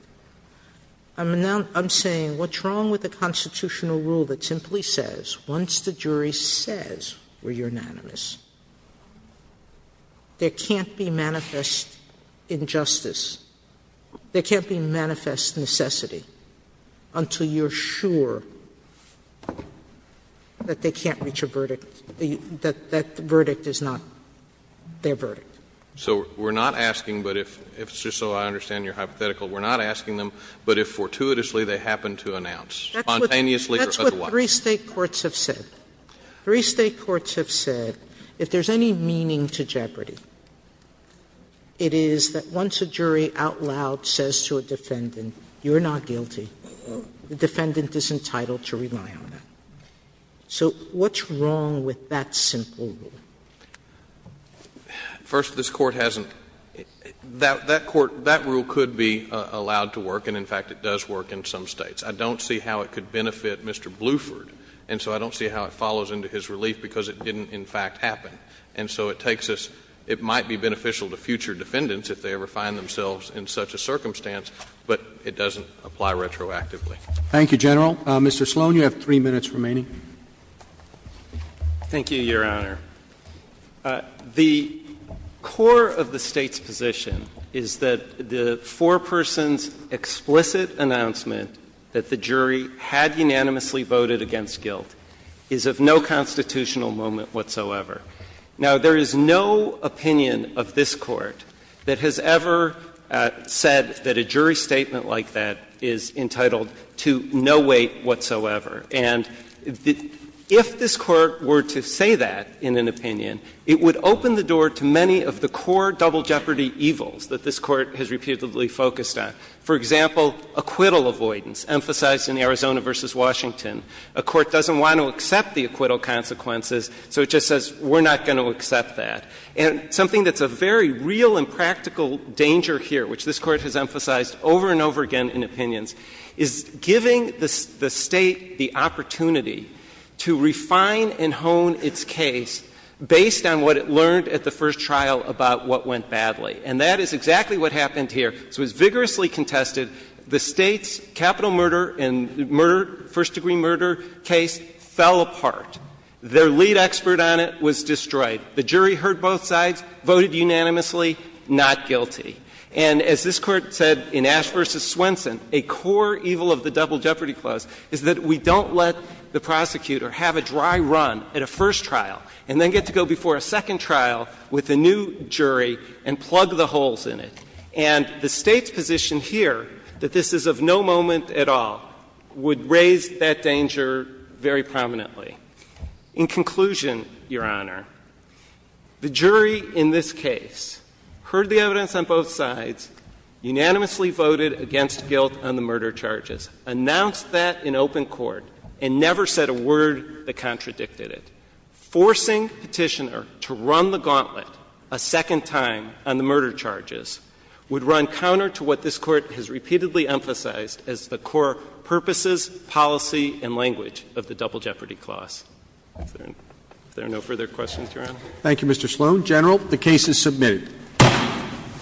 I'm saying what's wrong with a constitutional rule that simply says once the jury says we're unanimous, there can't be manifest injustice, there can't be manifest necessity until you're sure that they can't reach a verdict, that that verdict is not their verdict. So we're not asking, but if, just so I understand your hypothetical, we're not asking them, but if fortuitously they happen to announce, spontaneously or otherwise. Three State courts have said, three State courts have said, if there's any meaning to Jeopardy, it is that once a jury out loud says to a defendant, you're not guilty, the defendant is entitled to rely on that. So what's wrong with that simple rule? First, this Court hasn't – that Court, that rule could be allowed to work, and in fact it does work in some States. I don't see how it could benefit Mr. Bluford, and so I don't see how it follows into his relief because it didn't in fact happen. And so it takes us – it might be beneficial to future defendants if they ever find themselves in such a circumstance, but it doesn't apply retroactively. Thank you, General. Mr. Sloan, you have three minutes remaining. Thank you, Your Honor. The core of the State's position is that the foreperson's explicit announcement that the jury had unanimously voted against guilt is of no constitutional moment whatsoever. Now, there is no opinion of this Court that has ever said that a jury statement like that is entitled to no weight whatsoever. And if this Court were to say that in an opinion, it would open the door to many of the core double jeopardy evils that this Court has repeatedly focused on. For example, acquittal avoidance, emphasized in Arizona v. Washington. A court doesn't want to accept the acquittal consequences, so it just says, we're not going to accept that. And something that's a very real and practical danger here, which this Court has emphasized over and over again in opinions, is giving the State the opportunity to refine and hone its case based on what it learned at the first trial about what went badly. And that is exactly what happened here. This was vigorously contested. The State's capital murder and murder, first-degree murder case fell apart. Their lead expert on it was destroyed. The jury heard both sides, voted unanimously, not guilty. And as this Court said in Ash v. Swenson, a core evil of the double jeopardy clause is that we don't let the prosecutor have a dry run at a first trial and then get to go before a second trial with a new jury and plug the holes in it. And the State's position here, that this is of no moment at all, would raise that danger very prominently. In conclusion, Your Honor, the jury in this case heard the evidence on both sides unanimously voted against guilt on the murder charges, announced that in open court, and never said a word that contradicted it. Forcing Petitioner to run the gauntlet a second time on the murder charges would run counter to what this Court has repeatedly emphasized as the core purposes, policy, and language of the double jeopardy clause. If there are no further questions, Your Honor. Roberts. Thank you, Mr. Sloan. General, the case is submitted.